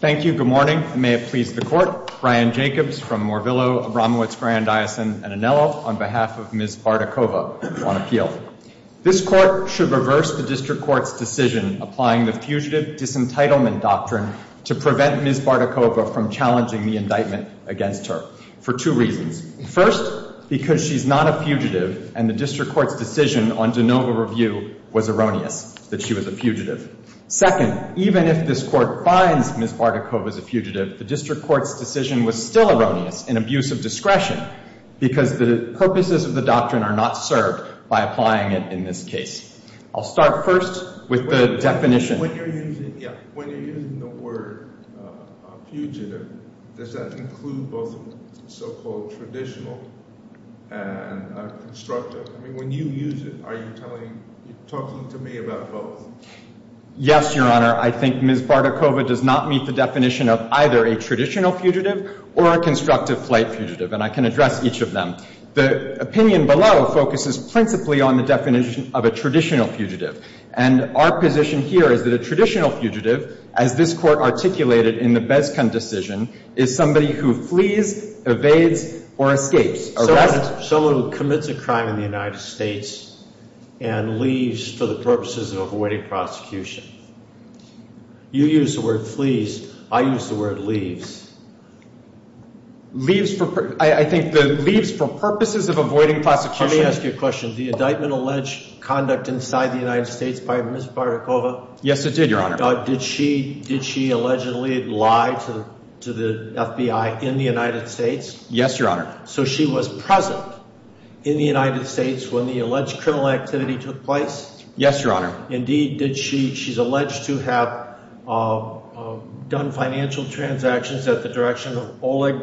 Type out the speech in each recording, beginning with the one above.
Thank you. Good morning. I may have pleased the Court. Brian Jacobs from Morvillo, Abramowitz, Bryan Dyson, and Anello, on behalf of Ms. Bardakova, on appeal. This Court should reverse the District Court's decision applying the Fugitive Disentitlement Doctrine to prevent Ms. Bardakova from challenging the indictment against her for two reasons. First, because she's not a fugitive and the District Court's decision on de novo review was erroneous, that she was a fugitive. Second, even if this Court finds Ms. Bardakova as a fugitive, the District Court's decision was still erroneous in abuse of discretion because the purposes of the doctrine are not served by applying it in this case. I'll start first with the definition. When you're using the word fugitive, does that include both the so-called traditional and constructive? I mean, when you use it, are you talking to me about both? Yes, Your Honor. I think Ms. Bardakova does not meet the definition of either a traditional fugitive or a constructive flight fugitive, and I can address each of them. The opinion below focuses principally on the definition of a traditional fugitive. And our position here is that a traditional fugitive, as this Court articulated in the Beskan decision, is somebody who flees, evades, or escapes, arrests. Someone who commits a crime in the United States and leaves for the purposes of avoiding prosecution. You use the word flees. I use the word leaves. Leaves for purposes of avoiding prosecution. Your Honor, let me ask you a question. The indictment alleged conduct inside the United States by Ms. Bardakova? Yes, it did, Your Honor. Did she allegedly lie to the FBI in the United States? Yes, Your Honor. So she was present in the United States when the alleged criminal activity took place? Yes, Your Honor. Indeed, she's alleged to have done financial transactions at the direction of Oleg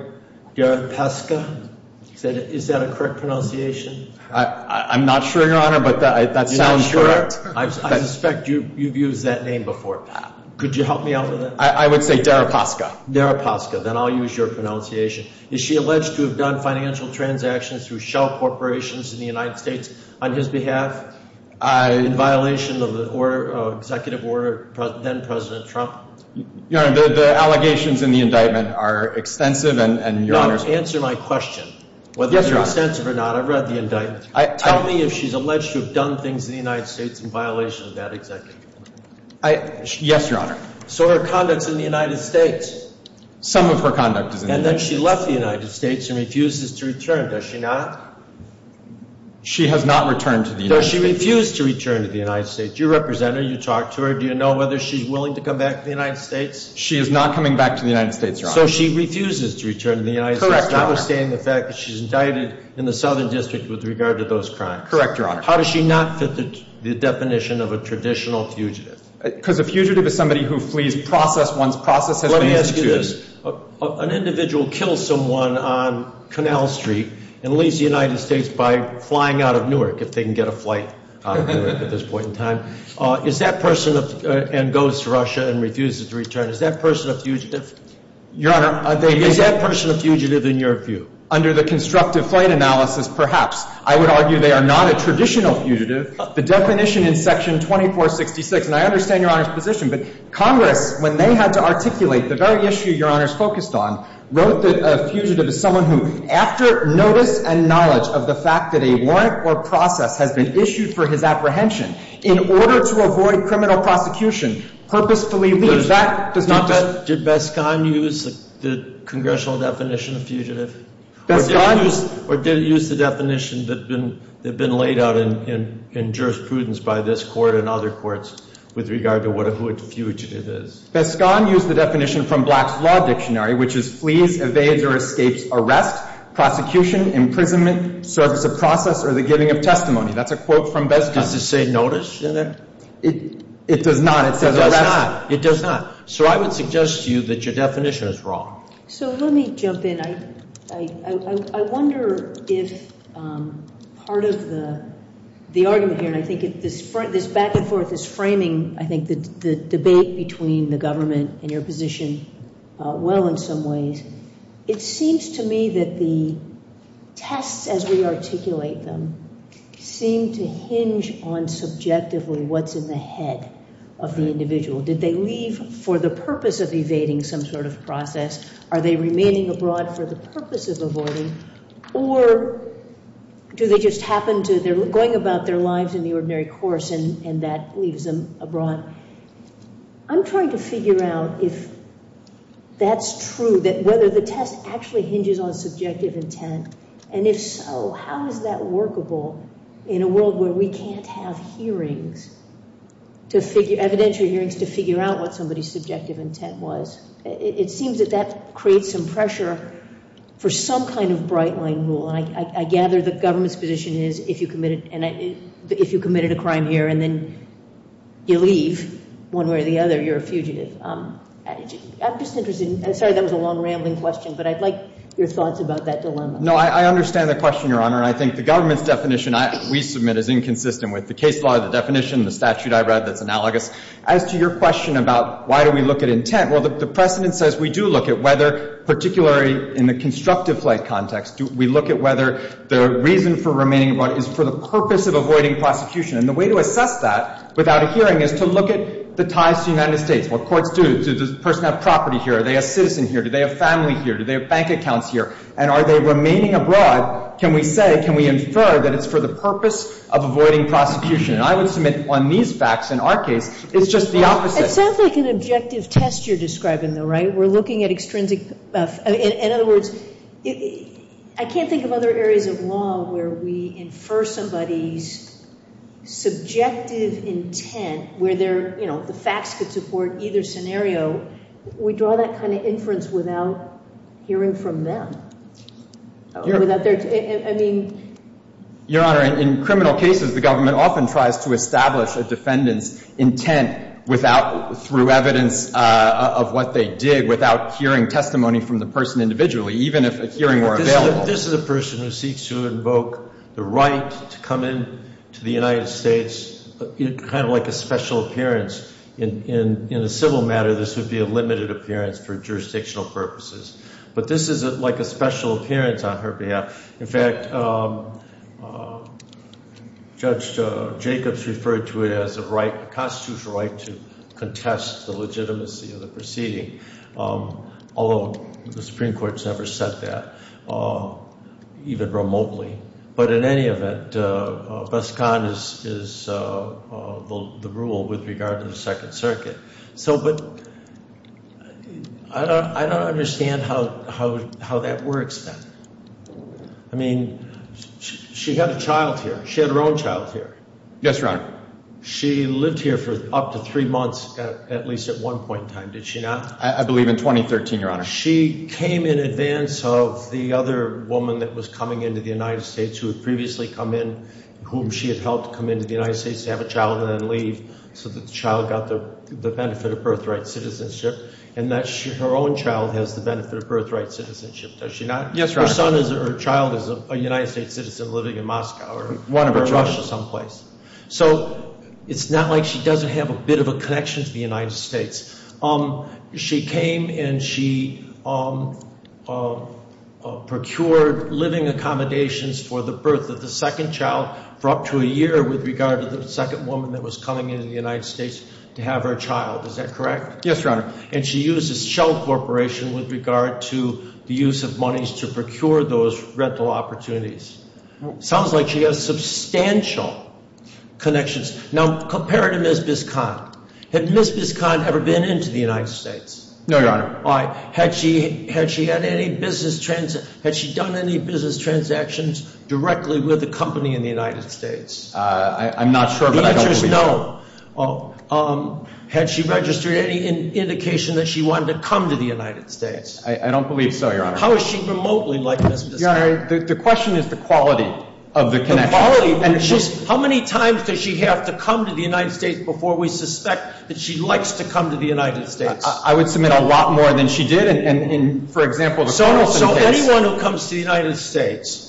Deripaska. Is that a correct pronunciation? I'm not sure, Your Honor, but that sounds correct. I suspect you've used that name before, Pat. Could you help me out with it? I would say Deripaska. Deripaska. Then I'll use your pronunciation. Is she alleged to have done financial transactions through shell corporations in the United States on his behalf? In violation of the executive order then President Trump? Your Honor, the allegations in the indictment are extensive and Your Honor's... Answer my question. Yes, Your Honor. Whether they're extensive or not. I've read the indictment. Tell me if she's alleged to have done things in the United States in violation of that executive order. Yes, Your Honor. So her conduct's in the United States. Some of her conduct is in the United States. And then she left the United States and refuses to return. Does she not? She has not returned to the United States. Does she refuse to return to the United States? You represent her. You talk to her. Do you know whether she's willing to come back to the United States? She is not coming back to the United States, Your Honor. So she refuses to return to the United States. Correct, Your Honor. Notwithstanding the fact that she's indicted in the Southern District with regard to those crimes. Correct, Your Honor. How does she not fit the definition of a traditional fugitive? Because a fugitive is somebody who flees process once process has been executed. Let me ask you this. An individual kills someone on Canal Street and leaves the United States by flying out of Newark, if they can get a flight at this point in time. Is that person and goes to Russia and refuses to return. Is that person a fugitive? Your Honor. Is that person a fugitive in your view? Under the constructive flight analysis, perhaps. I would argue they are not a traditional fugitive. The definition in Section 2466, and I understand Your Honor's position. But Congress, when they had to articulate the very issue Your Honor is focused on, wrote that a fugitive is someone who after notice and knowledge of the fact that a warrant or process has been issued for his apprehension, in order to avoid criminal prosecution, purposefully leaves. That does not. Did Beskan use the congressional definition of fugitive? Beskan. Or did it use the definition that had been laid out in jurisprudence by this court and other courts with regard to what a fugitive is? Beskan used the definition from Black's Law Dictionary, which is flees, evades, or escapes arrest, prosecution, imprisonment, service of process, or the giving of testimony. That's a quote from Beskan. Does it say notice in there? It does not. It says arrest. It does not. It does not. So I would suggest to you that your definition is wrong. So let me jump in. I wonder if part of the argument here, and I think this back and forth is framing, I think, the debate between the government and your position well in some ways. It seems to me that the tests, as we articulate them, seem to hinge on subjectively what's in the head of the individual. Did they leave for the purpose of evading some sort of process? Are they remaining abroad for the purpose of avoiding? Or do they just happen to, they're going about their lives in the ordinary course, and that leaves them abroad? I'm trying to figure out if that's true, that whether the test actually hinges on subjective intent. And if so, how is that workable in a world where we can't have hearings, evidentiary hearings, to figure out what somebody's subjective intent was? It seems that that creates some pressure for some kind of bright-line rule. And I gather the government's position is if you committed a crime here and then you leave, one way or the other, you're a fugitive. I'm just interested, and sorry that was a long, rambling question, but I'd like your thoughts about that dilemma. No, I understand the question, Your Honor, and I think the government's definition, we submit, is inconsistent with the case law, the definition, the statute I read that's analogous. As to your question about why do we look at intent, well, the precedent says we do look at whether, particularly in the constructive flight context, we look at whether the reason for remaining abroad is for the purpose of avoiding prosecution. And the way to assess that without a hearing is to look at the ties to the United States, what courts do. Does this person have property here? Are they a citizen here? Do they have family here? Do they have bank accounts here? And are they remaining abroad? Can we say, can we infer that it's for the purpose of avoiding prosecution? And I would submit on these facts in our case, it's just the opposite. It sounds like an objective test you're describing, though, right? We're looking at extrinsic. In other words, I can't think of other areas of law where we infer somebody's subjective intent where they're, you know, the facts could support either scenario. We draw that kind of inference without hearing from them. Your Honor, in criminal cases, the government often tries to establish a defendant's intent without, through evidence of what they did, without hearing testimony from the person individually, even if a hearing were available. This is a person who seeks to invoke the right to come into the United States, kind of like a special appearance. In a civil matter, this would be a limited appearance for jurisdictional purposes. But this is like a special appearance on her behalf. In fact, Judge Jacobs referred to it as a constitutional right to contest the legitimacy of the proceeding, although the Supreme Court's never said that, even remotely. But in any event, Beskan is the rule with regard to the Second Circuit. So, but I don't understand how that works then. I mean, she had a child here. She had her own child here. Yes, Your Honor. She lived here for up to three months, at least at one point in time, did she not? I believe in 2013, Your Honor. She came in advance of the other woman that was coming into the United States who had previously come in, whom she had helped come into the United States to have a child and then leave, so that the child got the benefit of birthright citizenship. And her own child has the benefit of birthright citizenship, does she not? Yes, Your Honor. Her son or child is a United States citizen living in Moscow or Russia someplace. So it's not like she doesn't have a bit of a connection to the United States. She came and she procured living accommodations for the birth of the second child for up to a year with regard to the second woman that was coming into the United States to have her child. Is that correct? Yes, Your Honor. And she used a shell corporation with regard to the use of monies to procure those rental opportunities. Sounds like she has substantial connections. Now, compare her to Ms. Beskan. Had Ms. Beskan ever been into the United States? No, Your Honor. Had she done any business transactions directly with a company in the United States? I'm not sure, but I don't believe so. The answer is no. Had she registered any indication that she wanted to come to the United States? I don't believe so, Your Honor. How is she remotely like Ms. Beskan? Your Honor, the question is the quality of the connection. How many times does she have to come to the United States before we suspect that she likes to come to the United States? I would submit a lot more than she did in, for example, the Carlson case. So anyone who comes to the United States,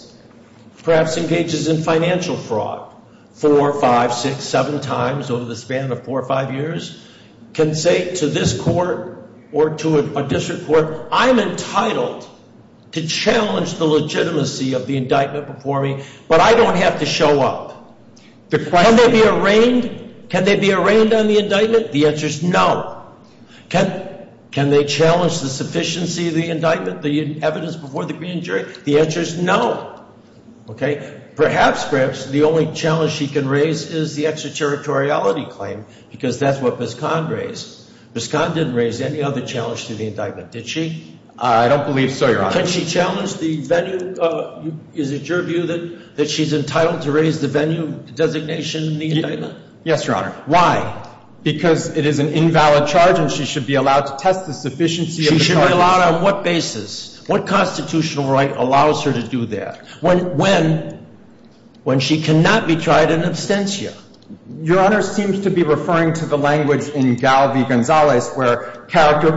perhaps engages in financial fraud, four, five, six, seven times over the span of four or five years, can say to this court or to a district court, I'm entitled to challenge the legitimacy of the indictment before me, but I don't have to show up. Can they be arraigned? Can they be arraigned on the indictment? The answer is no. Can they challenge the sufficiency of the indictment, the evidence before the jury? The answer is no. Perhaps, perhaps the only challenge she can raise is the extraterritoriality claim, because that's what Beskan raised. Beskan didn't raise any other challenge to the indictment, did she? I don't believe so, Your Honor. Can she challenge the venue? Is it your view that she's entitled to raise the venue designation in the indictment? Yes, Your Honor. Why? Because it is an invalid charge and she should be allowed to test the sufficiency of the charge. She should be allowed on what basis? What constitutional right allows her to do that? When? When she cannot be tried in absentia. Your Honor seems to be referring to the language in Galvi-Gonzalez,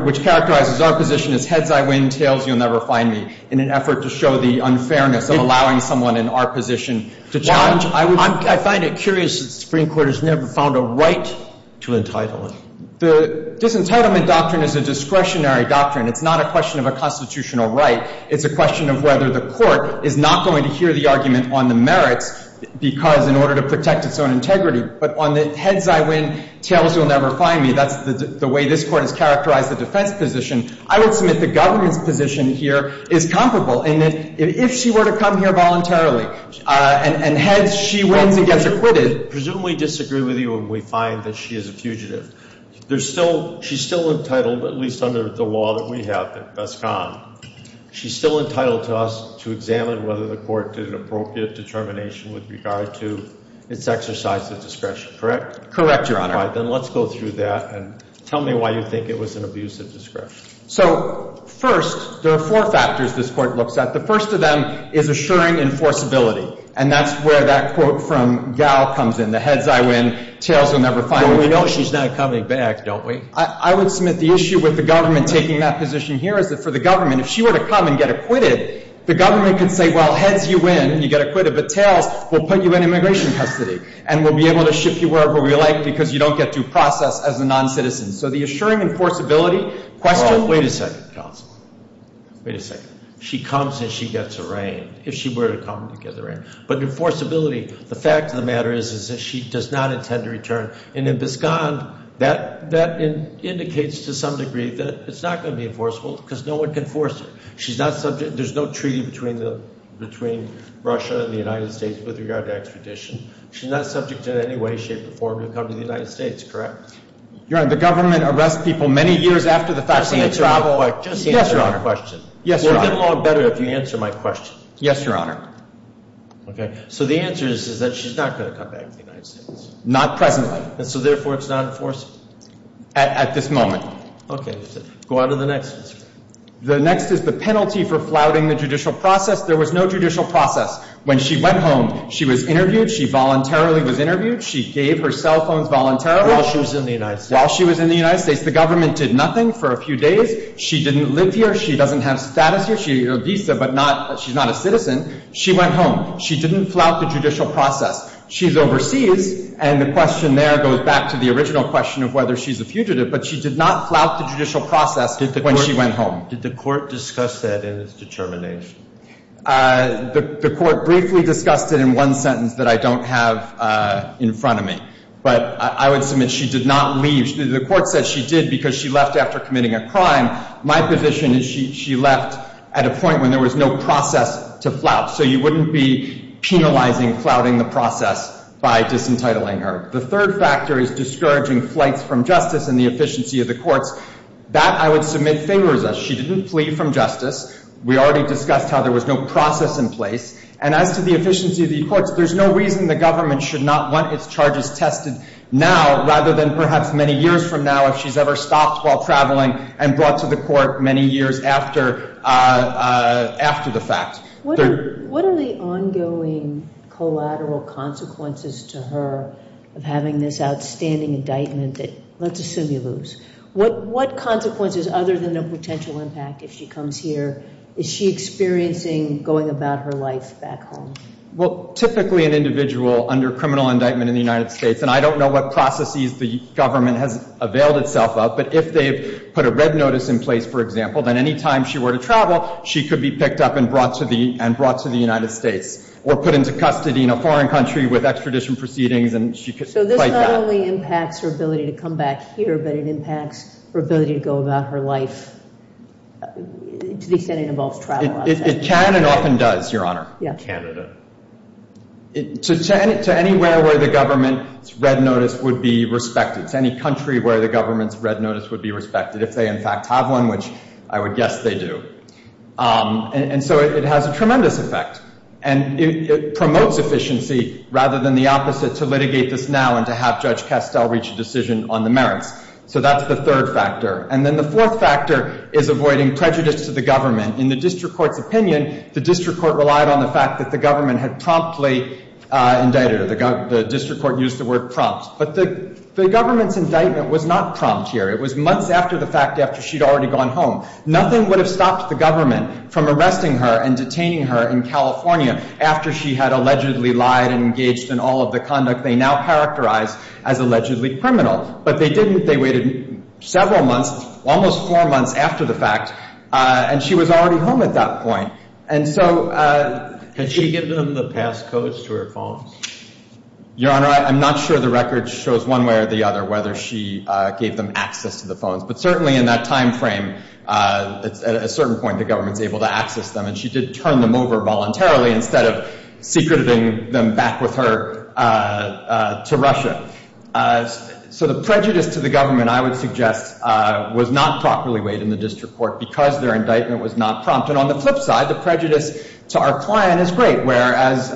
which characterizes our position as heads I win, tails you'll never find me, in an effort to show the unfairness of allowing someone in our position to challenge. I find it curious that the Supreme Court has never found a right to entitle it. The disentitlement doctrine is a discretionary doctrine. It's not a question of a constitutional right. It's a question of whether the Court is not going to hear the argument on the merits, because in order to protect its own integrity. But on the heads I win, tails you'll never find me, that's the way this Court has characterized the defense position. I would submit the governor's position here is comparable in that if she were to come here voluntarily and heads she wins and gets acquitted. Presumably disagree with you when we find that she is a fugitive. There's still – she's still entitled, at least under the law that we have at BESCON, she's still entitled to us to examine whether the Court did an appropriate determination with regard to its exercise of discretion, correct? Correct, Your Honor. All right. Then let's go through that and tell me why you think it was an abusive discretion. So first, there are four factors this Court looks at. The first of them is assuring enforceability. And that's where that quote from Gall comes in. The heads I win, tails you'll never find me. But we know she's not coming back, don't we? I would submit the issue with the government taking that position here is that for the government, if she were to come and get acquitted, the government could say, well, heads you win, you get acquitted, but tails, we'll put you in immigration custody. And we'll be able to ship you wherever we like because you don't get due process as a noncitizen. So the assuring enforceability question – Wait a second, counsel. Wait a second. She comes and she gets arraigned if she were to come to get arraigned. But enforceability, the fact of the matter is, is that she does not intend to return. And in Biscond, that indicates to some degree that it's not going to be enforceable because no one can force her. She's not subject – there's no treaty between Russia and the United States with regard to extradition. She's not subject in any way, shape, or form to come to the United States, correct? Your Honor, the government arrests people many years after the fact. Just answer my question. Yes, Your Honor. We'll get along better if you answer my question. Yes, Your Honor. Okay. So the answer is that she's not going to come back to the United States. Not presently. And so therefore, it's not enforceable? At this moment. Okay. Go on to the next. The next is the penalty for flouting the judicial process. There was no judicial process. When she went home, she was interviewed. She voluntarily was interviewed. She gave her cell phones voluntarily. While she was in the United States. While she was in the United States. The government did nothing for a few days. She didn't live here. She doesn't have status here. She had a visa, but not – she's not a citizen. She went home. She didn't flout the judicial process. She's overseas. And the question there goes back to the original question of whether she's a fugitive. But she did not flout the judicial process when she went home. Did the court discuss that in its determination? The court briefly discussed it in one sentence that I don't have in front of me. But I would submit she did not leave. The court said she did because she left after committing a crime. My position is she left at a point when there was no process to flout. So you wouldn't be penalizing flouting the process by disentitling her. The third factor is discouraging flights from justice and the efficiency of the courts. That I would submit favors us. She didn't flee from justice. We already discussed how there was no process in place. And as to the efficiency of the courts, there's no reason the government should not want its charges tested now rather than perhaps many years from now if she's ever stopped while traveling and brought to the court many years after the fact. What are the ongoing collateral consequences to her of having this outstanding indictment that let's assume you lose? What consequences other than a potential impact if she comes here is she experiencing going about her life back home? Well, typically an individual under criminal indictment in the United States, and I don't know what processes the government has availed itself of, but if they've put a red notice in place, for example, then any time she were to travel, she could be picked up and brought to the United States or put into custody in a foreign country with extradition proceedings and she could fight that. So this not only impacts her ability to come back here, but it impacts her ability to go about her life to the extent it involves travel. It can and often does, Your Honor. Canada. To anywhere where the government's red notice would be respected, to any country where the government's red notice would be respected, if they in fact have one, which I would guess they do. And so it has a tremendous effect. And it promotes efficiency rather than the opposite, to litigate this now and to have Judge Castell reach a decision on the merits. So that's the third factor. And then the fourth factor is avoiding prejudice to the government. In the district court's opinion, the district court relied on the fact that the government had promptly indicted her. The district court used the word prompt. But the government's indictment was not prompt here. It was months after the fact after she'd already gone home. Nothing would have stopped the government from arresting her and detaining her in California after she had allegedly lied and engaged in all of the conduct they now characterize as allegedly criminal. But they didn't. They waited several months, almost four months after the fact, and she was already home at that point. And so... Can she give them the pass codes to her phone? Your Honor, I'm not sure the record shows one way or the other whether she gave them access to the phones. But certainly in that time frame, at a certain point the government's able to access them, and she did turn them over voluntarily instead of secreting them back with her to Russia. So the prejudice to the government, I would suggest, was not properly weighed in the district court because their indictment was not prompt. And on the flip side, the prejudice to our client is great, whereas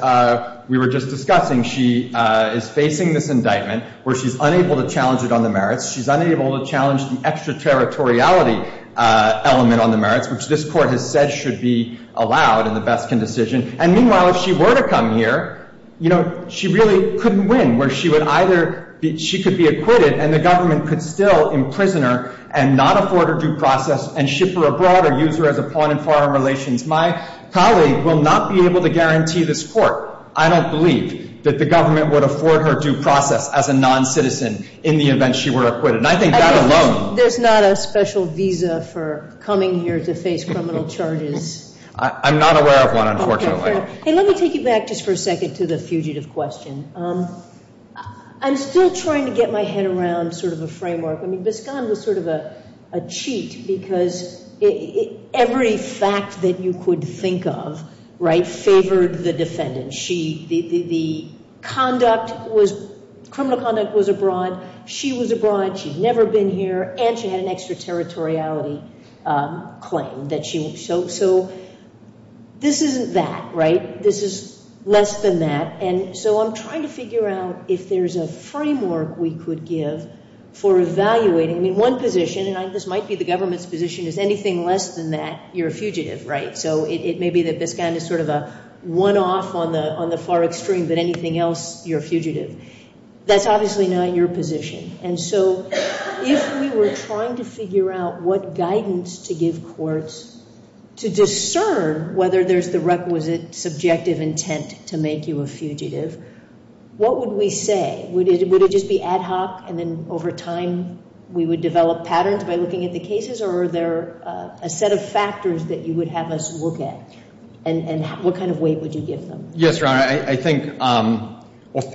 we were just discussing she is facing this indictment where she's unable to challenge it on the merits. She's unable to challenge the extraterritoriality element on the merits, which this court has said should be allowed in the Beskin decision. And meanwhile, if she were to come here, she really couldn't win where she could be acquitted and the government could still imprison her and not afford her due process and ship her abroad or use her as a pawn in foreign relations. My colleague will not be able to guarantee this court. I don't believe that the government would afford her due process as a non-citizen in the event she were acquitted. And I think that alone— There's not a special visa for coming here to face criminal charges. I'm not aware of one, unfortunately. Okay, fair. Hey, let me take you back just for a second to the fugitive question. I'm still trying to get my head around sort of a framework. I mean, Biskan was sort of a cheat because every fact that you could think of, right, favored the defendant. The conduct was—criminal conduct was abroad. She was abroad. She'd never been here. And she had an extraterritoriality claim that she— So this isn't that, right? This is less than that. And so I'm trying to figure out if there's a framework we could give for evaluating. I mean, one position, and this might be the government's position, is anything less than that, you're a fugitive, right? So it may be that Biskan is sort of a one-off on the far extreme, but anything else, you're a fugitive. That's obviously not your position. And so if we were trying to figure out what guidance to give courts to discern whether there's the requisite subjective intent to make you a fugitive, what would we say? Would it just be ad hoc and then over time we would develop patterns by looking at the cases or are there a set of factors that you would have us look at? And what kind of weight would you give them? Yes, Your Honor. I think—well,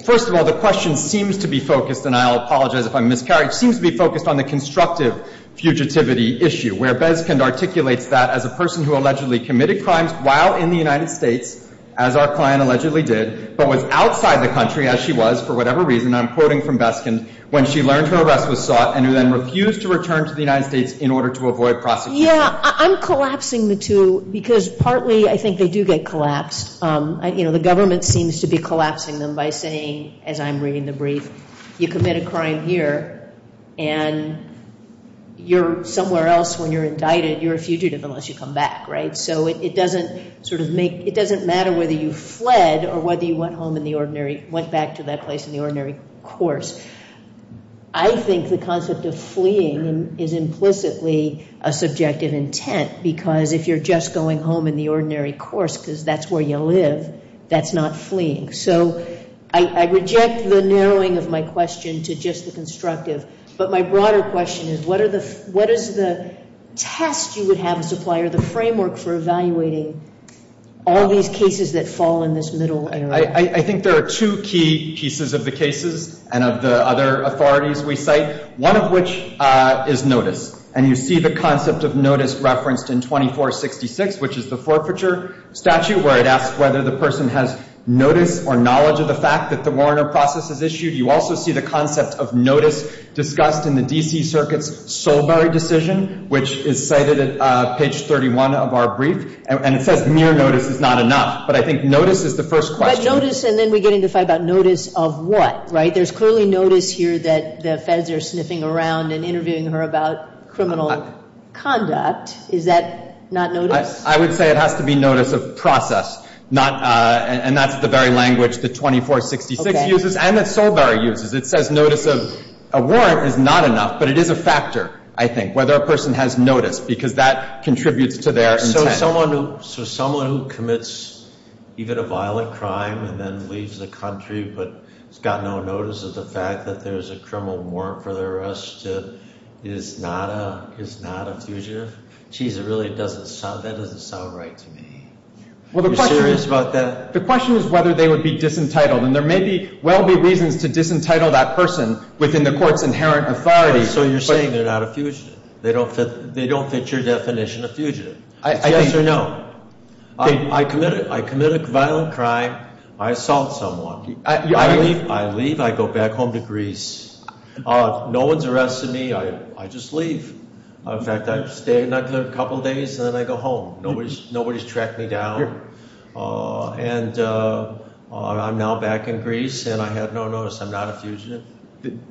first of all, the question seems to be focused, and I'll apologize if I'm miscarried, seems to be focused on the constructive fugitivity issue where Biskan articulates that as a person who allegedly committed crimes while in the United States, as our client allegedly did, but was outside the country, as she was, for whatever reason, I'm quoting from Biskan, when she learned her arrest was sought and who then refused to return to the United States in order to avoid prosecution. Yeah, I'm collapsing the two because partly I think they do get collapsed. The government seems to be collapsing them by saying, as I'm reading the brief, you commit a crime here and you're somewhere else when you're indicted. You're a fugitive unless you come back, right? So it doesn't sort of make—it doesn't matter whether you fled or whether you went home in the ordinary—went back to that place in the ordinary course. I think the concept of fleeing is implicitly a subjective intent because if you're just going home in the ordinary course because that's where you live, that's not fleeing. So I reject the narrowing of my question to just the constructive, but my broader question is what is the test you would have as a supplier, the framework for evaluating all these cases that fall in this middle area? I think there are two key pieces of the cases and of the other authorities we cite, one of which is notice, and you see the concept of notice referenced in 2466, which is the forfeiture statute where it asks whether the person has notice or knowledge of the fact that the warrant or process is issued. You also see the concept of notice discussed in the D.C. Circuit's Solberry decision, which is cited at page 31 of our brief, and it says mere notice is not enough. But I think notice is the first question. But notice, and then we get into the fight about notice of what, right? There's clearly notice here that the feds are sniffing around and interviewing her about criminal conduct. Is that not notice? I would say it has to be notice of process, and that's the very language that 2466 uses, and that Solberry uses. It says notice of a warrant is not enough, but it is a factor, I think, whether a person has notice because that contributes to their intent. So someone who commits even a violent crime and then leaves the country but has got no notice of the fact that there's a criminal warrant for their arrest is not a fugitive? Jeez, that doesn't sound right to me. Are you serious about that? The question is whether they would be disentitled, and there may well be reasons to disentitle that person within the court's inherent authority. So you're saying they're not a fugitive? They don't fit your definition of fugitive? It's yes or no. I commit a violent crime. I assault someone. I leave. I leave. I go back home to Greece. No one's arrested me. I just leave. In fact, I stay in there a couple of days, and then I go home. Nobody's tracked me down. And I'm now back in Greece, and I have no notice. I'm not a fugitive.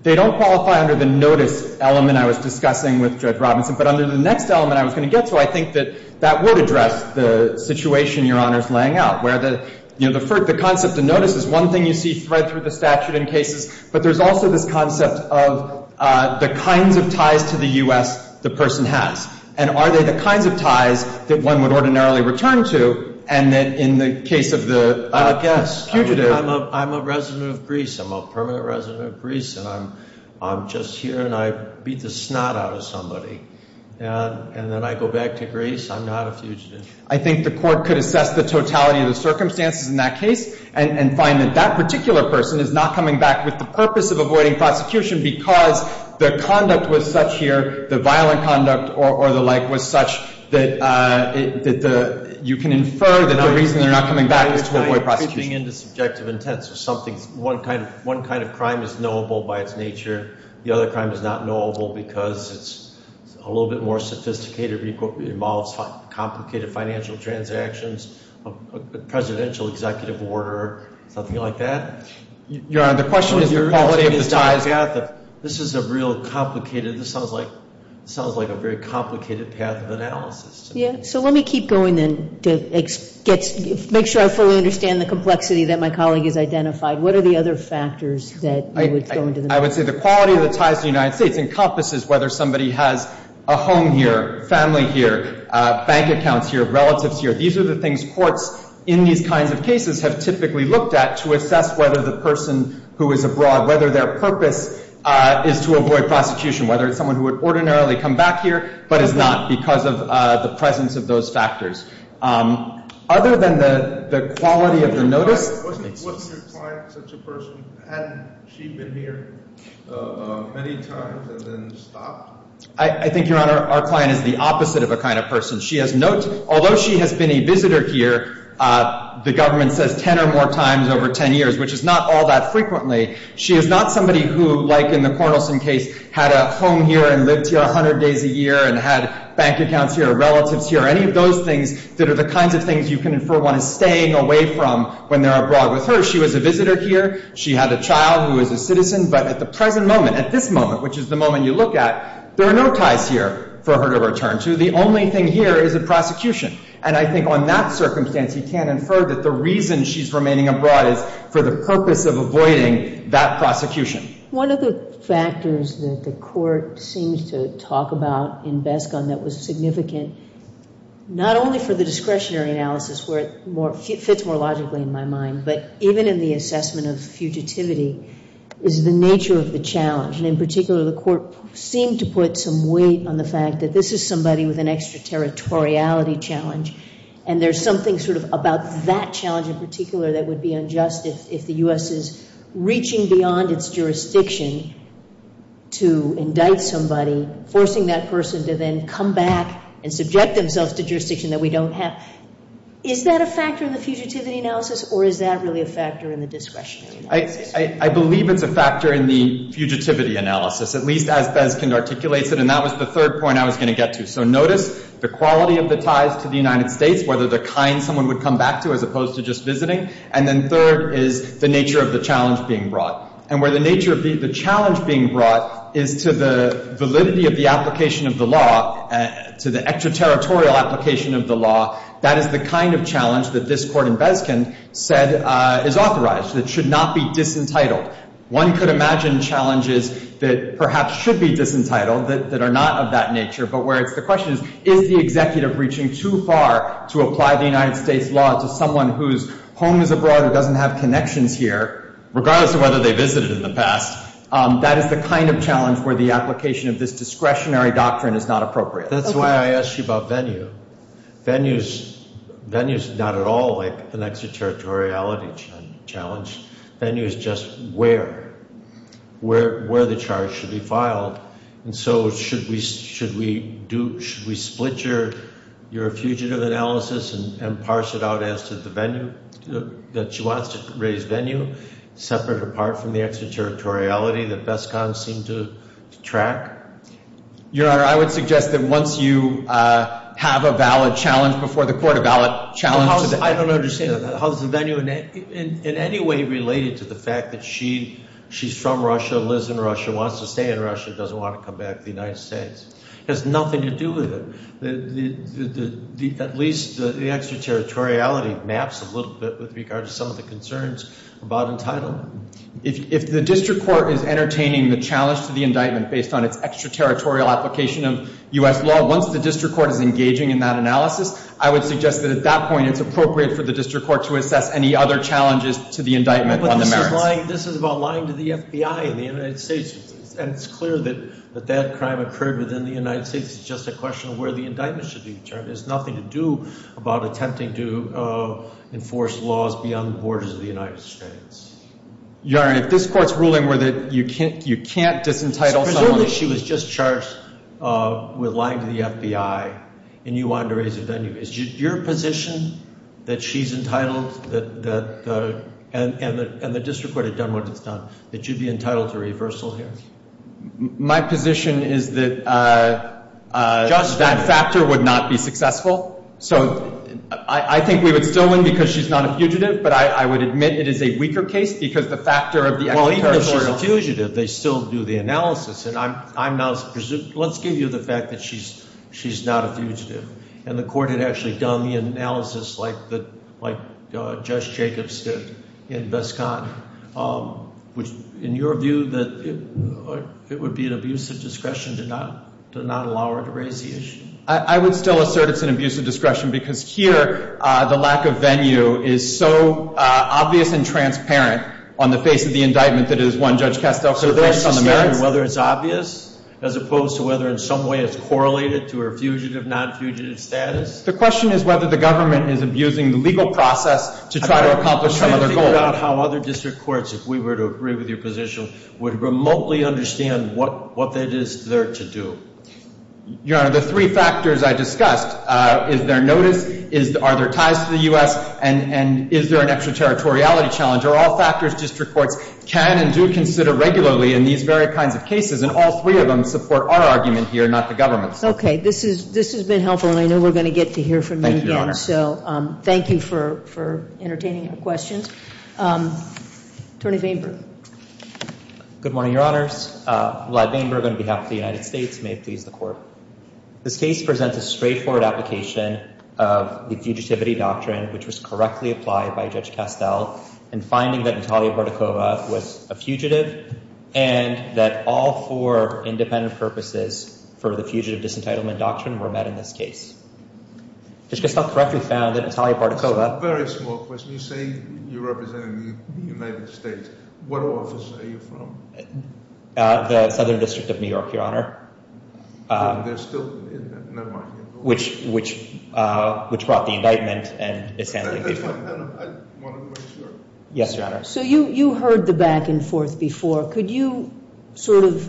They don't qualify under the notice element I was discussing with Judge Robinson, but under the next element I was going to get to, I think that that would address the situation Your Honor is laying out, where the concept of notice is one thing you see thread through the statute in cases, but there's also this concept of the kinds of ties to the U.S. the person has. And are they the kinds of ties that one would ordinarily return to? And then in the case of the fugitive. I'm a resident of Greece. I'm a permanent resident of Greece, and I'm just here, and I beat the snot out of somebody. And then I go back to Greece. I'm not a fugitive. I think the court could assess the totality of the circumstances in that case and find that that particular person is not coming back with the purpose of avoiding prosecution because the conduct was such here, the violent conduct or the like, was such that you can infer that the reason they're not coming back is to avoid prosecution. One kind of crime is knowable by its nature. The other crime is not knowable because it's a little bit more sophisticated, involves complicated financial transactions, a presidential executive order, something like that. Your Honor, the question is the quality of the ties. This is a real complicated, this sounds like a very complicated path of analysis. Yeah. So let me keep going then to make sure I fully understand the complexity that my colleague has identified. What are the other factors that you would throw into the mix? I would say the quality of the ties in the United States encompasses whether somebody has a home here, family here, bank accounts here, relatives here. These are the things courts in these kinds of cases have typically looked at to assess whether the person who is abroad, whether their purpose is to avoid prosecution, whether it's someone who would ordinarily come back here but is not because of the presence of those factors. Other than the quality of the notice. Wasn't your client such a person? Hadn't she been here many times and then stopped? I think, Your Honor, our client is the opposite of a kind of person. She has no—although she has been a visitor here, the government says 10 or more times over 10 years, which is not all that frequently, she is not somebody who, like in the Cornelson case, had a home here and lived here 100 days a year and had bank accounts here, relatives here, any of those things that are the kinds of things you can infer one is staying away from when they're abroad with her. She was a visitor here. She had a child who was a citizen. But at the present moment, at this moment, which is the moment you look at, there are no ties here for her to return to. The only thing here is a prosecution. And I think on that circumstance, you can infer that the reason she's remaining abroad is for the purpose of avoiding that prosecution. One of the factors that the Court seems to talk about in Beskon that was significant, not only for the discretionary analysis where it fits more logically in my mind, but even in the assessment of fugitivity, is the nature of the challenge. And in particular, the Court seemed to put some weight on the fact that this is somebody with an extraterritoriality challenge, and there's something sort of about that challenge in particular that would be unjust if the U.S. is reaching beyond its jurisdiction to indict somebody, forcing that person to then come back and subject themselves to jurisdiction that we don't have. Is that a factor in the fugitivity analysis, or is that really a factor in the discretionary analysis? I believe it's a factor in the fugitivity analysis, at least as Beskon articulates it. And that was the third point I was going to get to. So notice the quality of the ties to the United States, whether the kind someone would come back to as opposed to just visiting. And then third is the nature of the challenge being brought. And where the nature of the challenge being brought is to the validity of the application of the law, to the extraterritorial application of the law, that is the kind of challenge that this Court in Beskon said is authorized, that it should not be disentitled. One could imagine challenges that perhaps should be disentitled that are not of that nature, but where the question is, is the executive reaching too far to apply the United States law to someone whose home is abroad who doesn't have connections here, regardless of whether they visited in the past? That is the kind of challenge where the application of this discretionary doctrine is not appropriate. That's why I asked you about venue. Venue is not at all like an extraterritoriality challenge. Venue is just where, where the charge should be filed. And so should we split your fugitive analysis and parse it out as to the venue that she wants to raise venue, separate or apart from the extraterritoriality that Beskon seemed to track? Your Honor, I would suggest that once you have a valid challenge before the Court, a valid challenge to the- I don't understand that. How is the venue in any way related to the fact that she's from Russia, lives in Russia, wants to stay in Russia, doesn't want to come back to the United States? It has nothing to do with it. At least the extraterritoriality maps a little bit with regard to some of the concerns about entitlement. If the district court is entertaining the challenge to the indictment based on its extraterritorial application of U.S. law, once the district court is engaging in that analysis, I would suggest that at that point it's appropriate for the district court to assess any other challenges to the indictment on the merits. But this is about lying to the FBI in the United States. And it's clear that that crime occurred within the United States. It's just a question of where the indictment should be determined. It has nothing to do about attempting to enforce laws beyond the borders of the United States. Your Honor, if this Court's ruling were that you can't disentitle someone- Presumably she was just charged with lying to the FBI and you wanted to raise the venue. Is your position that she's entitled and the district court had done what it's done, that you'd be entitled to reversal here? My position is that that factor would not be successful. So I think we would still win because she's not a fugitive. But I would admit it is a weaker case because the factor of the extraterritorial- Well, even if she's a fugitive, they still do the analysis. And I'm not- let's give you the fact that she's not a fugitive. And the court had actually done the analysis like Judge Jacobs did in Vescon. In your view, it would be an abuse of discretion to not allow her to raise the issue? I would still assert it's an abuse of discretion because here the lack of venue is so obvious and transparent on the face of the indictment that it is one Judge Castel- So that's the standard, whether it's obvious as opposed to whether in some way it's correlated to her fugitive, non-fugitive status? The question is whether the government is abusing the legal process to try to accomplish some other goal. I doubt how other district courts, if we were to agree with your position, would remotely understand what that is there to do. Your Honor, the three factors I discussed, is there notice? Are there ties to the U.S.? And is there an extraterritoriality challenge? Are all factors district courts can and do consider regularly in these very kinds of cases? And all three of them support our argument here, not the government's. Okay, this has been helpful. And I know we're going to get to hear from you again. Thank you, Your Honor. Any other questions? Attorney Vandberg. Good morning, Your Honors. Vlad Vandberg on behalf of the United States. May it please the Court. This case presents a straightforward application of the Fugitivity Doctrine, which was correctly applied by Judge Castel, in finding that Natalia Bartikova was a fugitive and that all four independent purposes for the Fugitive Disentitlement Doctrine were met in this case. Judge Castel correctly found that Natalia Bartikova- A very small question. You say you represent the United States. What office are you from? The Southern District of New York, Your Honor. There's still- never mind. Which brought the indictment and- That's fine. I want to make sure. Yes, Your Honor. So you heard the back and forth before. Could you sort of,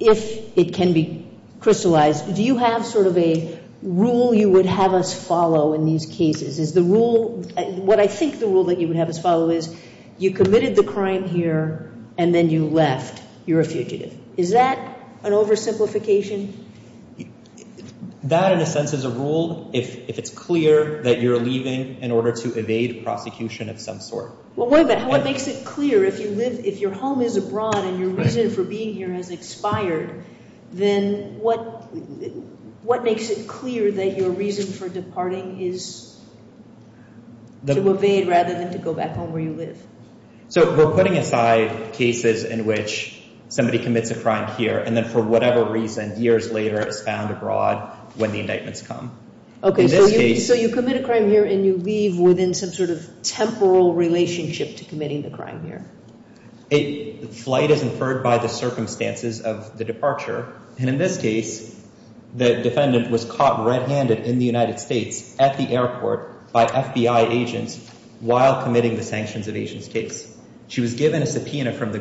if it can be crystallized, do you have sort of a rule you would have us follow in these cases? Is the rule- what I think the rule that you would have us follow is you committed the crime here and then you left. You're a fugitive. Is that an oversimplification? That, in a sense, is a rule if it's clear that you're leaving in order to evade prosecution of some sort. Well, wait a minute. What makes it clear if you live- if your home is abroad and your reason for being here has expired, then what makes it clear that your reason for departing is to evade rather than to go back home where you live? So we're putting aside cases in which somebody commits a crime here and then for whatever reason years later is found abroad when the indictments come. Okay, so you commit a crime here and you leave within some sort of temporal relationship to committing the crime here. Flight is inferred by the circumstances of the departure. And in this case, the defendant was caught red-handed in the United States at the airport by FBI agents while committing the sanctions evasion case. She was given a subpoena from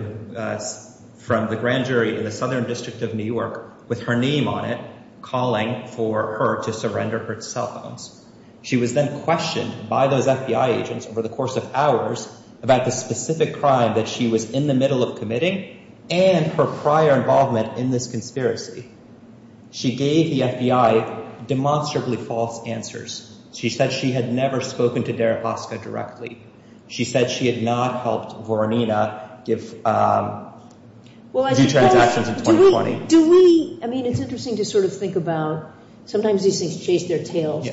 the grand jury in the Southern District of New York with her name on it calling for her to surrender her cell phones. She was then questioned by those FBI agents over the course of hours about the specific crime that she was in the middle of committing and her prior involvement in this conspiracy. She gave the FBI demonstrably false answers. She said she had never spoken to Deripaska directly. She said she had not helped Voronina do transactions in 2020. Do we, I mean, it's interesting to sort of think about sometimes these things chase their tails.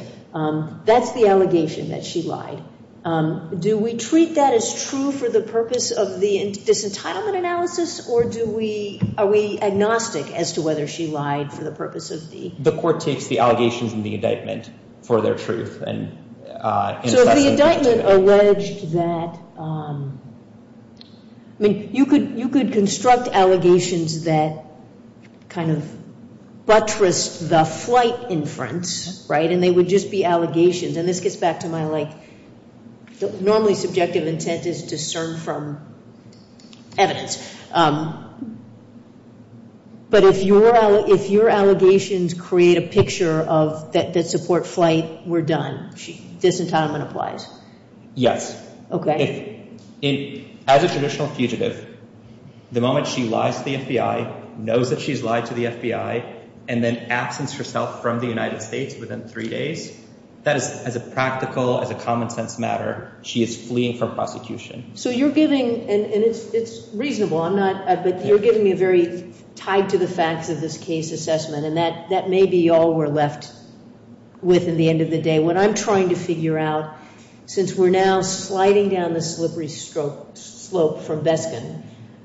That's the allegation that she lied. Do we treat that as true for the purpose of the disentitlement analysis or do we, are we agnostic as to whether she lied for the purpose of the. The court takes the allegations in the indictment for their truth. So the indictment alleged that, I mean, you could construct allegations that kind of buttressed the flight inference, right, and they would just be allegations. And this gets back to my like normally subjective intent is discern from evidence. But if your allegations create a picture of that support flight, we're done. Disentitlement applies. Yes. Okay. As a traditional fugitive, the moment she lies to the FBI, knows that she's lied to the FBI, and then absence herself from the United States within three days, that is as a practical, as a common sense matter, she is fleeing from prosecution. So you're giving, and it's reasonable, I'm not, but you're giving me a very tied to the facts of this case assessment, and that may be all we're left with in the end of the day. What I'm trying to figure out, since we're now sliding down the slippery slope from Beskin,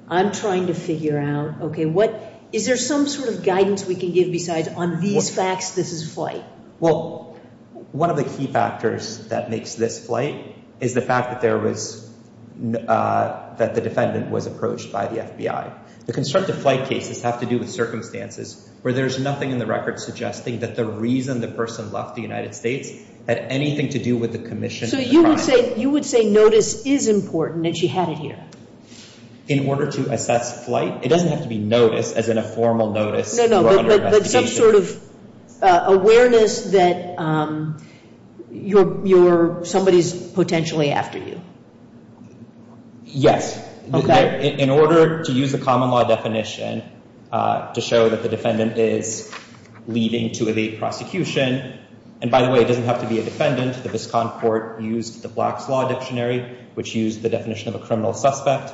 I'm trying to figure out, okay, what, is there some sort of guidance we can give besides on these facts, this is flight? Well, one of the key factors that makes this flight is the fact that there was, that the defendant was approached by the FBI. The constructive flight cases have to do with circumstances where there's nothing in the record suggesting that the reason the person left the United States had anything to do with the commission. So you would say, you would say notice is important and she had it here. In order to assess flight, it doesn't have to be notice as in a formal notice. No, no, but some sort of awareness that you're, somebody's potentially after you. Yes. Okay. In order to use the common law definition to show that the defendant is leaving to evade prosecution, and by the way, it doesn't have to be a defendant. The Viscount Court used the Black's Law Dictionary, which used the definition of a criminal suspect.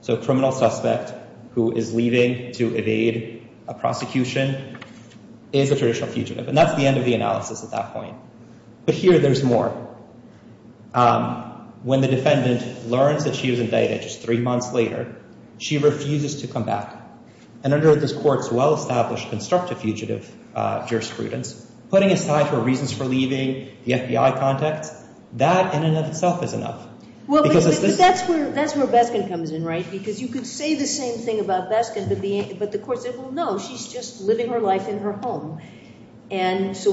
So a criminal suspect who is leaving to evade a prosecution is a traditional fugitive. And that's the end of the analysis at that point. But here there's more. When the defendant learns that she was indicted just three months later, she refuses to come back. And under this court's well-established constructive fugitive jurisprudence, putting aside her reasons for leaving, the FBI contacts, that in and of itself is enough. Well, but that's where Beskin comes in, right? Because you could say the same thing about Beskin, but the court said, well, no, she's just living her life in her home. And so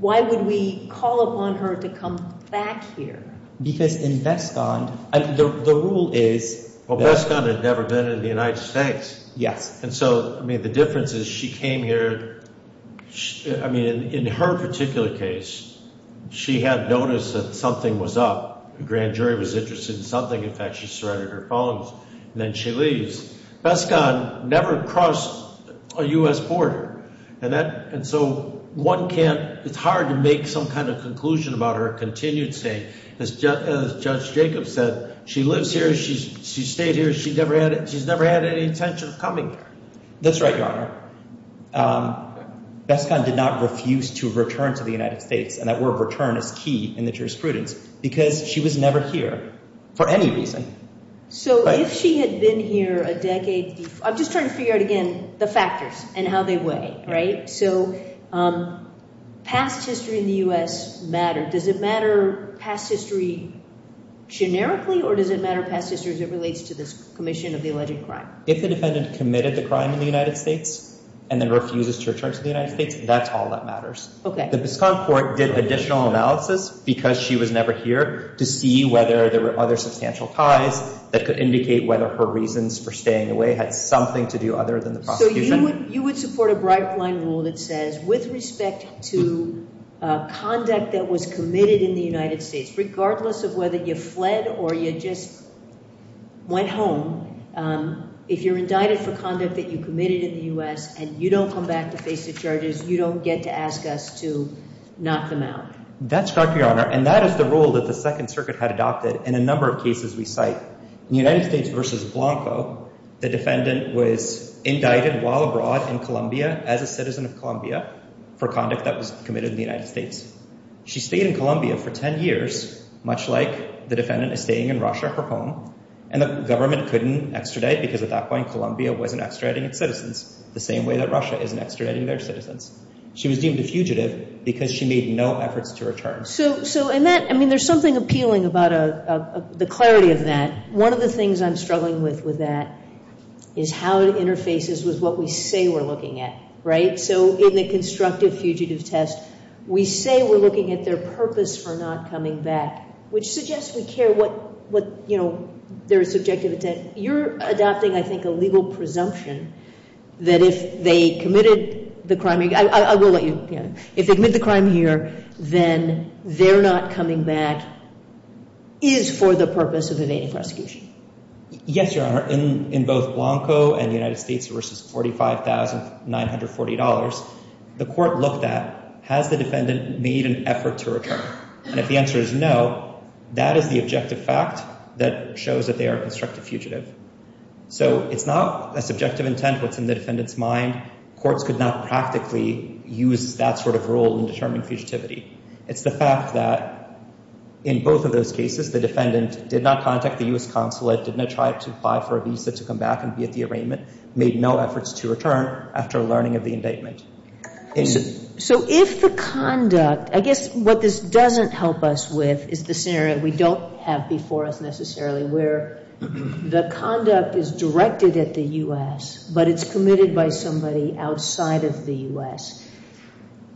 why would we call upon her to come back here? Because in Beskin, the rule is— Well, Beskin had never been in the United States. Yes. And so, I mean, the difference is she came here—I mean, in her particular case, she had noticed that something was up. A grand jury was interested in something. In fact, she surrendered her phones, and then she leaves. Beskin never crossed a U.S. border. And so one can't—it's hard to make some kind of conclusion about her continued stay. As Judge Jacobs said, she lives here. She stayed here. She's never had any intention of coming here. That's right, Your Honor. Beskin did not refuse to return to the United States, and that word return is key in the jurisprudence because she was never here for any reason. So if she had been here a decade—I'm just trying to figure out again the factors and how they weigh, right? So past history in the U.S. mattered. Does it matter past history generically, or does it matter past history as it relates to this commission of the alleged crime? If the defendant committed the crime in the United States and then refuses to return to the United States, that's all that matters. Okay. The Biscayne court did additional analysis because she was never here to see whether there were other substantial ties that could indicate whether her reasons for staying away had something to do other than the prosecution. So you would support a bright-blind rule that says with respect to conduct that was committed in the United States, regardless of whether you fled or you just went home, if you're indicted for conduct that you committed in the U.S. and you don't come back to face the charges, you don't get to ask us to knock them out. That's correct, Your Honor, and that is the rule that the Second Circuit had adopted in a number of cases we cite. In the United States v. Blanco, the defendant was indicted while abroad in Colombia as a citizen of Colombia for conduct that was committed in the United States. She stayed in Colombia for 10 years, much like the defendant is staying in Russia, her home, and the government couldn't extradite because at that point Colombia wasn't extraditing its citizens the same way that Russia isn't extraditing their citizens. She was deemed a fugitive because she made no efforts to return. So in that, I mean, there's something appealing about the clarity of that. One of the things I'm struggling with with that is how it interfaces with what we say we're looking at, right? So in the constructive fugitive test, we say we're looking at their purpose for not coming back, which suggests we care what, you know, their subjective intent. You're adopting, I think, a legal presumption that if they committed the crime—I will let you—if they commit the crime here, then their not coming back is for the purpose of evading prosecution. Yes, Your Honor, in both Blanco and United States versus $45,940, the court looked at, has the defendant made an effort to return? And if the answer is no, that is the objective fact that shows that they are a constructive fugitive. So it's not a subjective intent that's in the defendant's mind. Courts could not practically use that sort of rule in determining fugitivity. It's the fact that in both of those cases, the defendant did not contact the U.S. consulate, did not try to apply for a visa to come back and be at the arraignment, made no efforts to return after learning of the indictment. So if the conduct—I guess what this doesn't help us with is the scenario we don't have before us, necessarily, where the conduct is directed at the U.S., but it's committed by somebody outside of the U.S.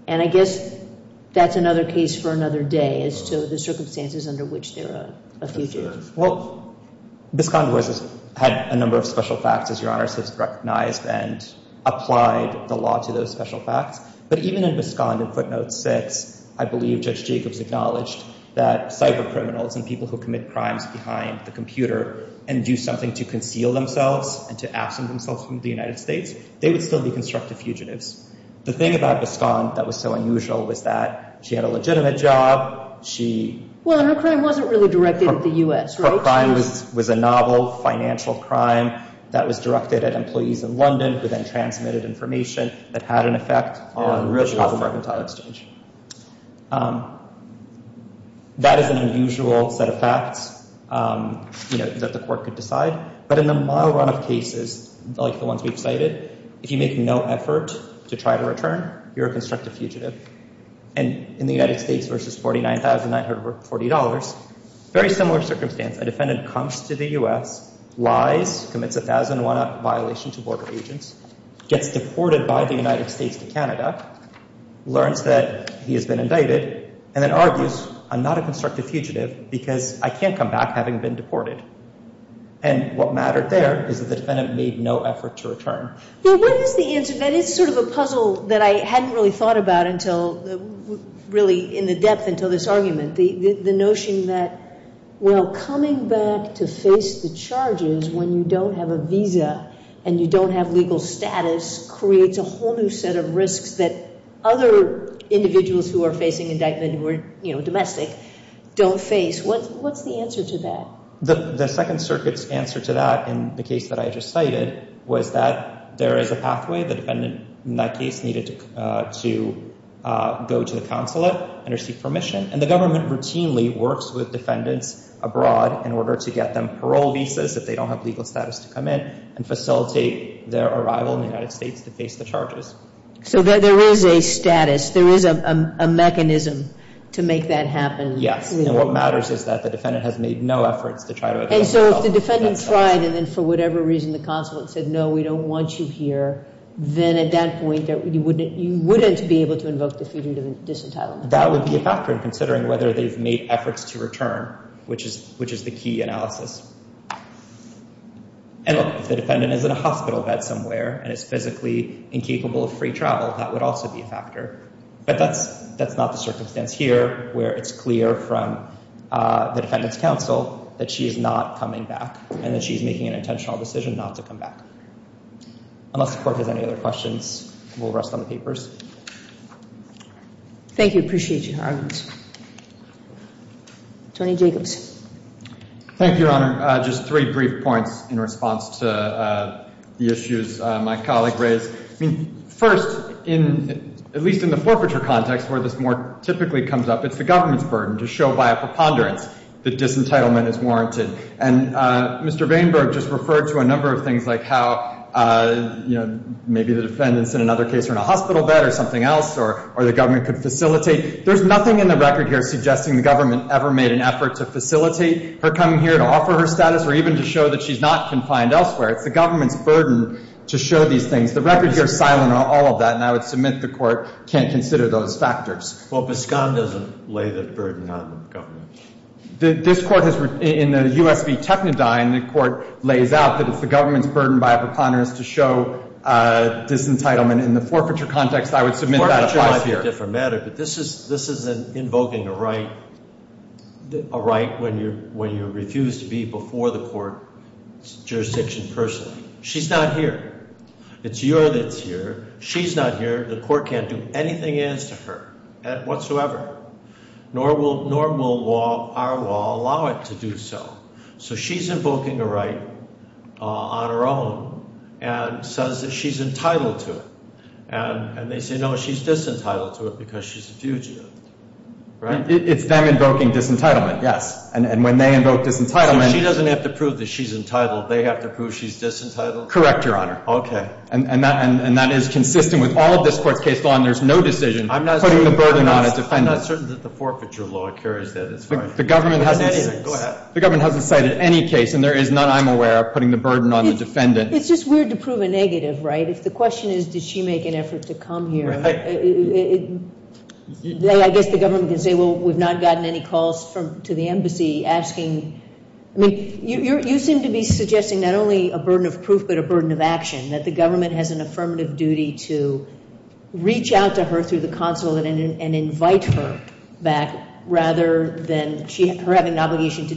And I guess that's another case for another day as to the circumstances under which they're a fugitive. Well, Biscond was—had a number of special facts, as Your Honor says, recognized and applied the law to those special facts. But even in Biscond in footnotes 6, I believe Judge Jacobs acknowledged that cyber criminals and people who commit crimes behind the computer and do something to conceal themselves and to absent themselves from the United States, they would still be constructive fugitives. The thing about Biscond that was so unusual was that she had a legitimate job. She— Well, and her crime wasn't really directed at the U.S., right? Her crime was a novel financial crime that was directed at employees in London who then transmitted information that had an effect on— Yeah, unusual. That is an unusual set of facts, you know, that the court could decide. But in the mile run of cases like the ones we've cited, if you make no effort to try to return, you're a constructive fugitive. And in the United States versus $49,940, very similar circumstance. A defendant comes to the U.S., lies, commits a 1,001-up violation to border agents, gets deported by the United States to Canada, learns that he has been indicted, and then argues, I'm not a constructive fugitive because I can't come back having been deported. And what mattered there is that the defendant made no effort to return. Well, what is the answer? That is sort of a puzzle that I hadn't really thought about until—really in the depth until this argument. The notion that, well, coming back to face the charges when you don't have a visa and you don't have legal status creates a whole new set of risks that other individuals who are facing indictment who are, you know, domestic don't face. What's the answer to that? The Second Circuit's answer to that in the case that I just cited was that there is a pathway. The defendant in that case needed to go to the consulate and receive permission. And the government routinely works with defendants abroad in order to get them parole visas if they don't have legal status to come in and facilitate their arrival in the United States to face the charges. So there is a status. There is a mechanism to make that happen. Yes. And what matters is that the defendant has made no efforts to try to— And so if the defendant tried and then for whatever reason the consulate said, no, we don't want you here, then at that point you wouldn't be able to invoke the freedom of disentitlement. That would be a factor in considering whether they've made efforts to return, which is the key analysis. And, look, if the defendant is in a hospital bed somewhere and is physically incapable of free travel, that would also be a factor. But that's not the circumstance here where it's clear from the defendant's counsel that she is not coming back and that she is making an intentional decision not to come back. Unless the Court has any other questions, we'll rest on the papers. Thank you. Appreciate your arguments. Tony Jacobs. Thank you, Your Honor. Just three brief points in response to the issues my colleague raised. First, at least in the forfeiture context where this more typically comes up, it's the government's burden to show by a preponderance that disentitlement is warranted. And Mr. Vainberg just referred to a number of things like how, you know, maybe the defendants in another case are in a hospital bed or something else or the government could facilitate. There's nothing in the record here suggesting the government ever made an effort to facilitate her coming here to offer her status or even to show that she's not confined elsewhere. It's the government's burden to show these things. The record here is silent on all of that, and I would submit the Court can't consider those factors. Well, Biscott doesn't lay the burden on the government. This Court has, in the U.S. v. Technodyne, the Court lays out that it's the government's burden by a preponderance to show disentitlement. In the forfeiture context, I would submit that applies here. Forfeiture might be a different matter, but this is invoking a right when you refuse to be before the Court's jurisdiction personally. She's not here. It's your that's here. She's not here. The Court can't do anything as to her whatsoever, nor will our law allow it to do so. So she's invoking a right on her own and says that she's entitled to it. And they say, no, she's disentitled to it because she's a fugitive, right? It's them invoking disentitlement, yes. So she doesn't have to prove that she's entitled. They have to prove she's disentitled? Correct, Your Honor. Okay. And that is consistent with all of this Court's case law, and there's no decision putting the burden on a defendant. I'm not certain that the forfeiture law carries that as far as anything. Go ahead. The government hasn't cited any case, and there is none, I'm aware, putting the burden on the defendant. It's just weird to prove a negative, right? If the question is, did she make an effort to come here, I guess the government can say, well, we've not gotten any calls to the embassy asking. I mean, you seem to be suggesting not only a burden of proof but a burden of action, that the government has an affirmative duty to reach out to her through the consulate and invite her back rather than her having an obligation to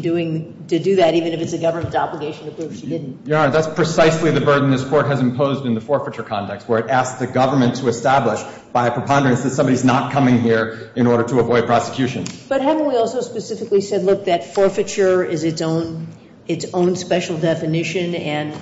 do that, even if it's the government's obligation to prove she didn't. Your Honor, that's precisely the burden this Court has imposed in the forfeiture context, where it asks the government to establish, by a preponderance, that somebody's not coming here in order to avoid prosecution. But haven't we also specifically said, look, that forfeiture is its own special definition and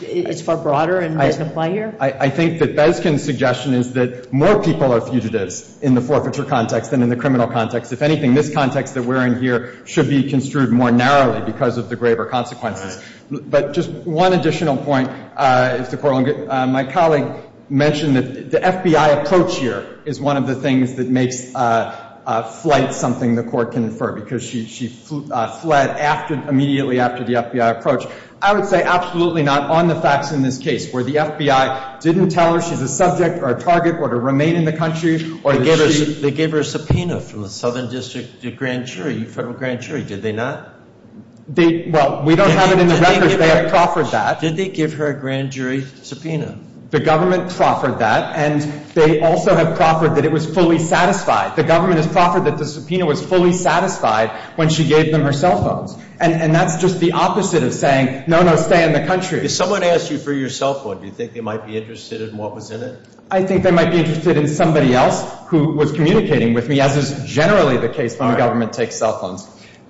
it's far broader and doesn't apply here? I think that Beskin's suggestion is that more people are fugitives in the forfeiture context than in the criminal context. If anything, this context that we're in here should be construed more narrowly because of the graver consequences. But just one additional point, Mr. Corwin. My colleague mentioned that the FBI approach here is one of the things that makes flight something the Court can infer because she fled immediately after the FBI approach. I would say absolutely not on the facts in this case, where the FBI didn't tell her she's a subject or a target or to remain in the country. They gave her a subpoena from the Southern District Grand Jury, Federal Grand Jury. Did they not? Well, we don't have it in the records. They have proffered that. Did they give her a grand jury subpoena? The government proffered that, and they also have proffered that it was fully satisfied. The government has proffered that the subpoena was fully satisfied when she gave them her cell phones. And that's just the opposite of saying, no, no, stay in the country. If someone asked you for your cell phone, do you think they might be interested in what was in it? I think they might be interested in somebody else who was communicating with me, as is generally the case when the government takes cell phones.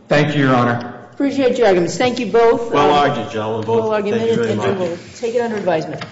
Thank you, Your Honor. Appreciate your arguments. Thank you both. Well argued, Joe. Thank you very much. We'll take it under advisement.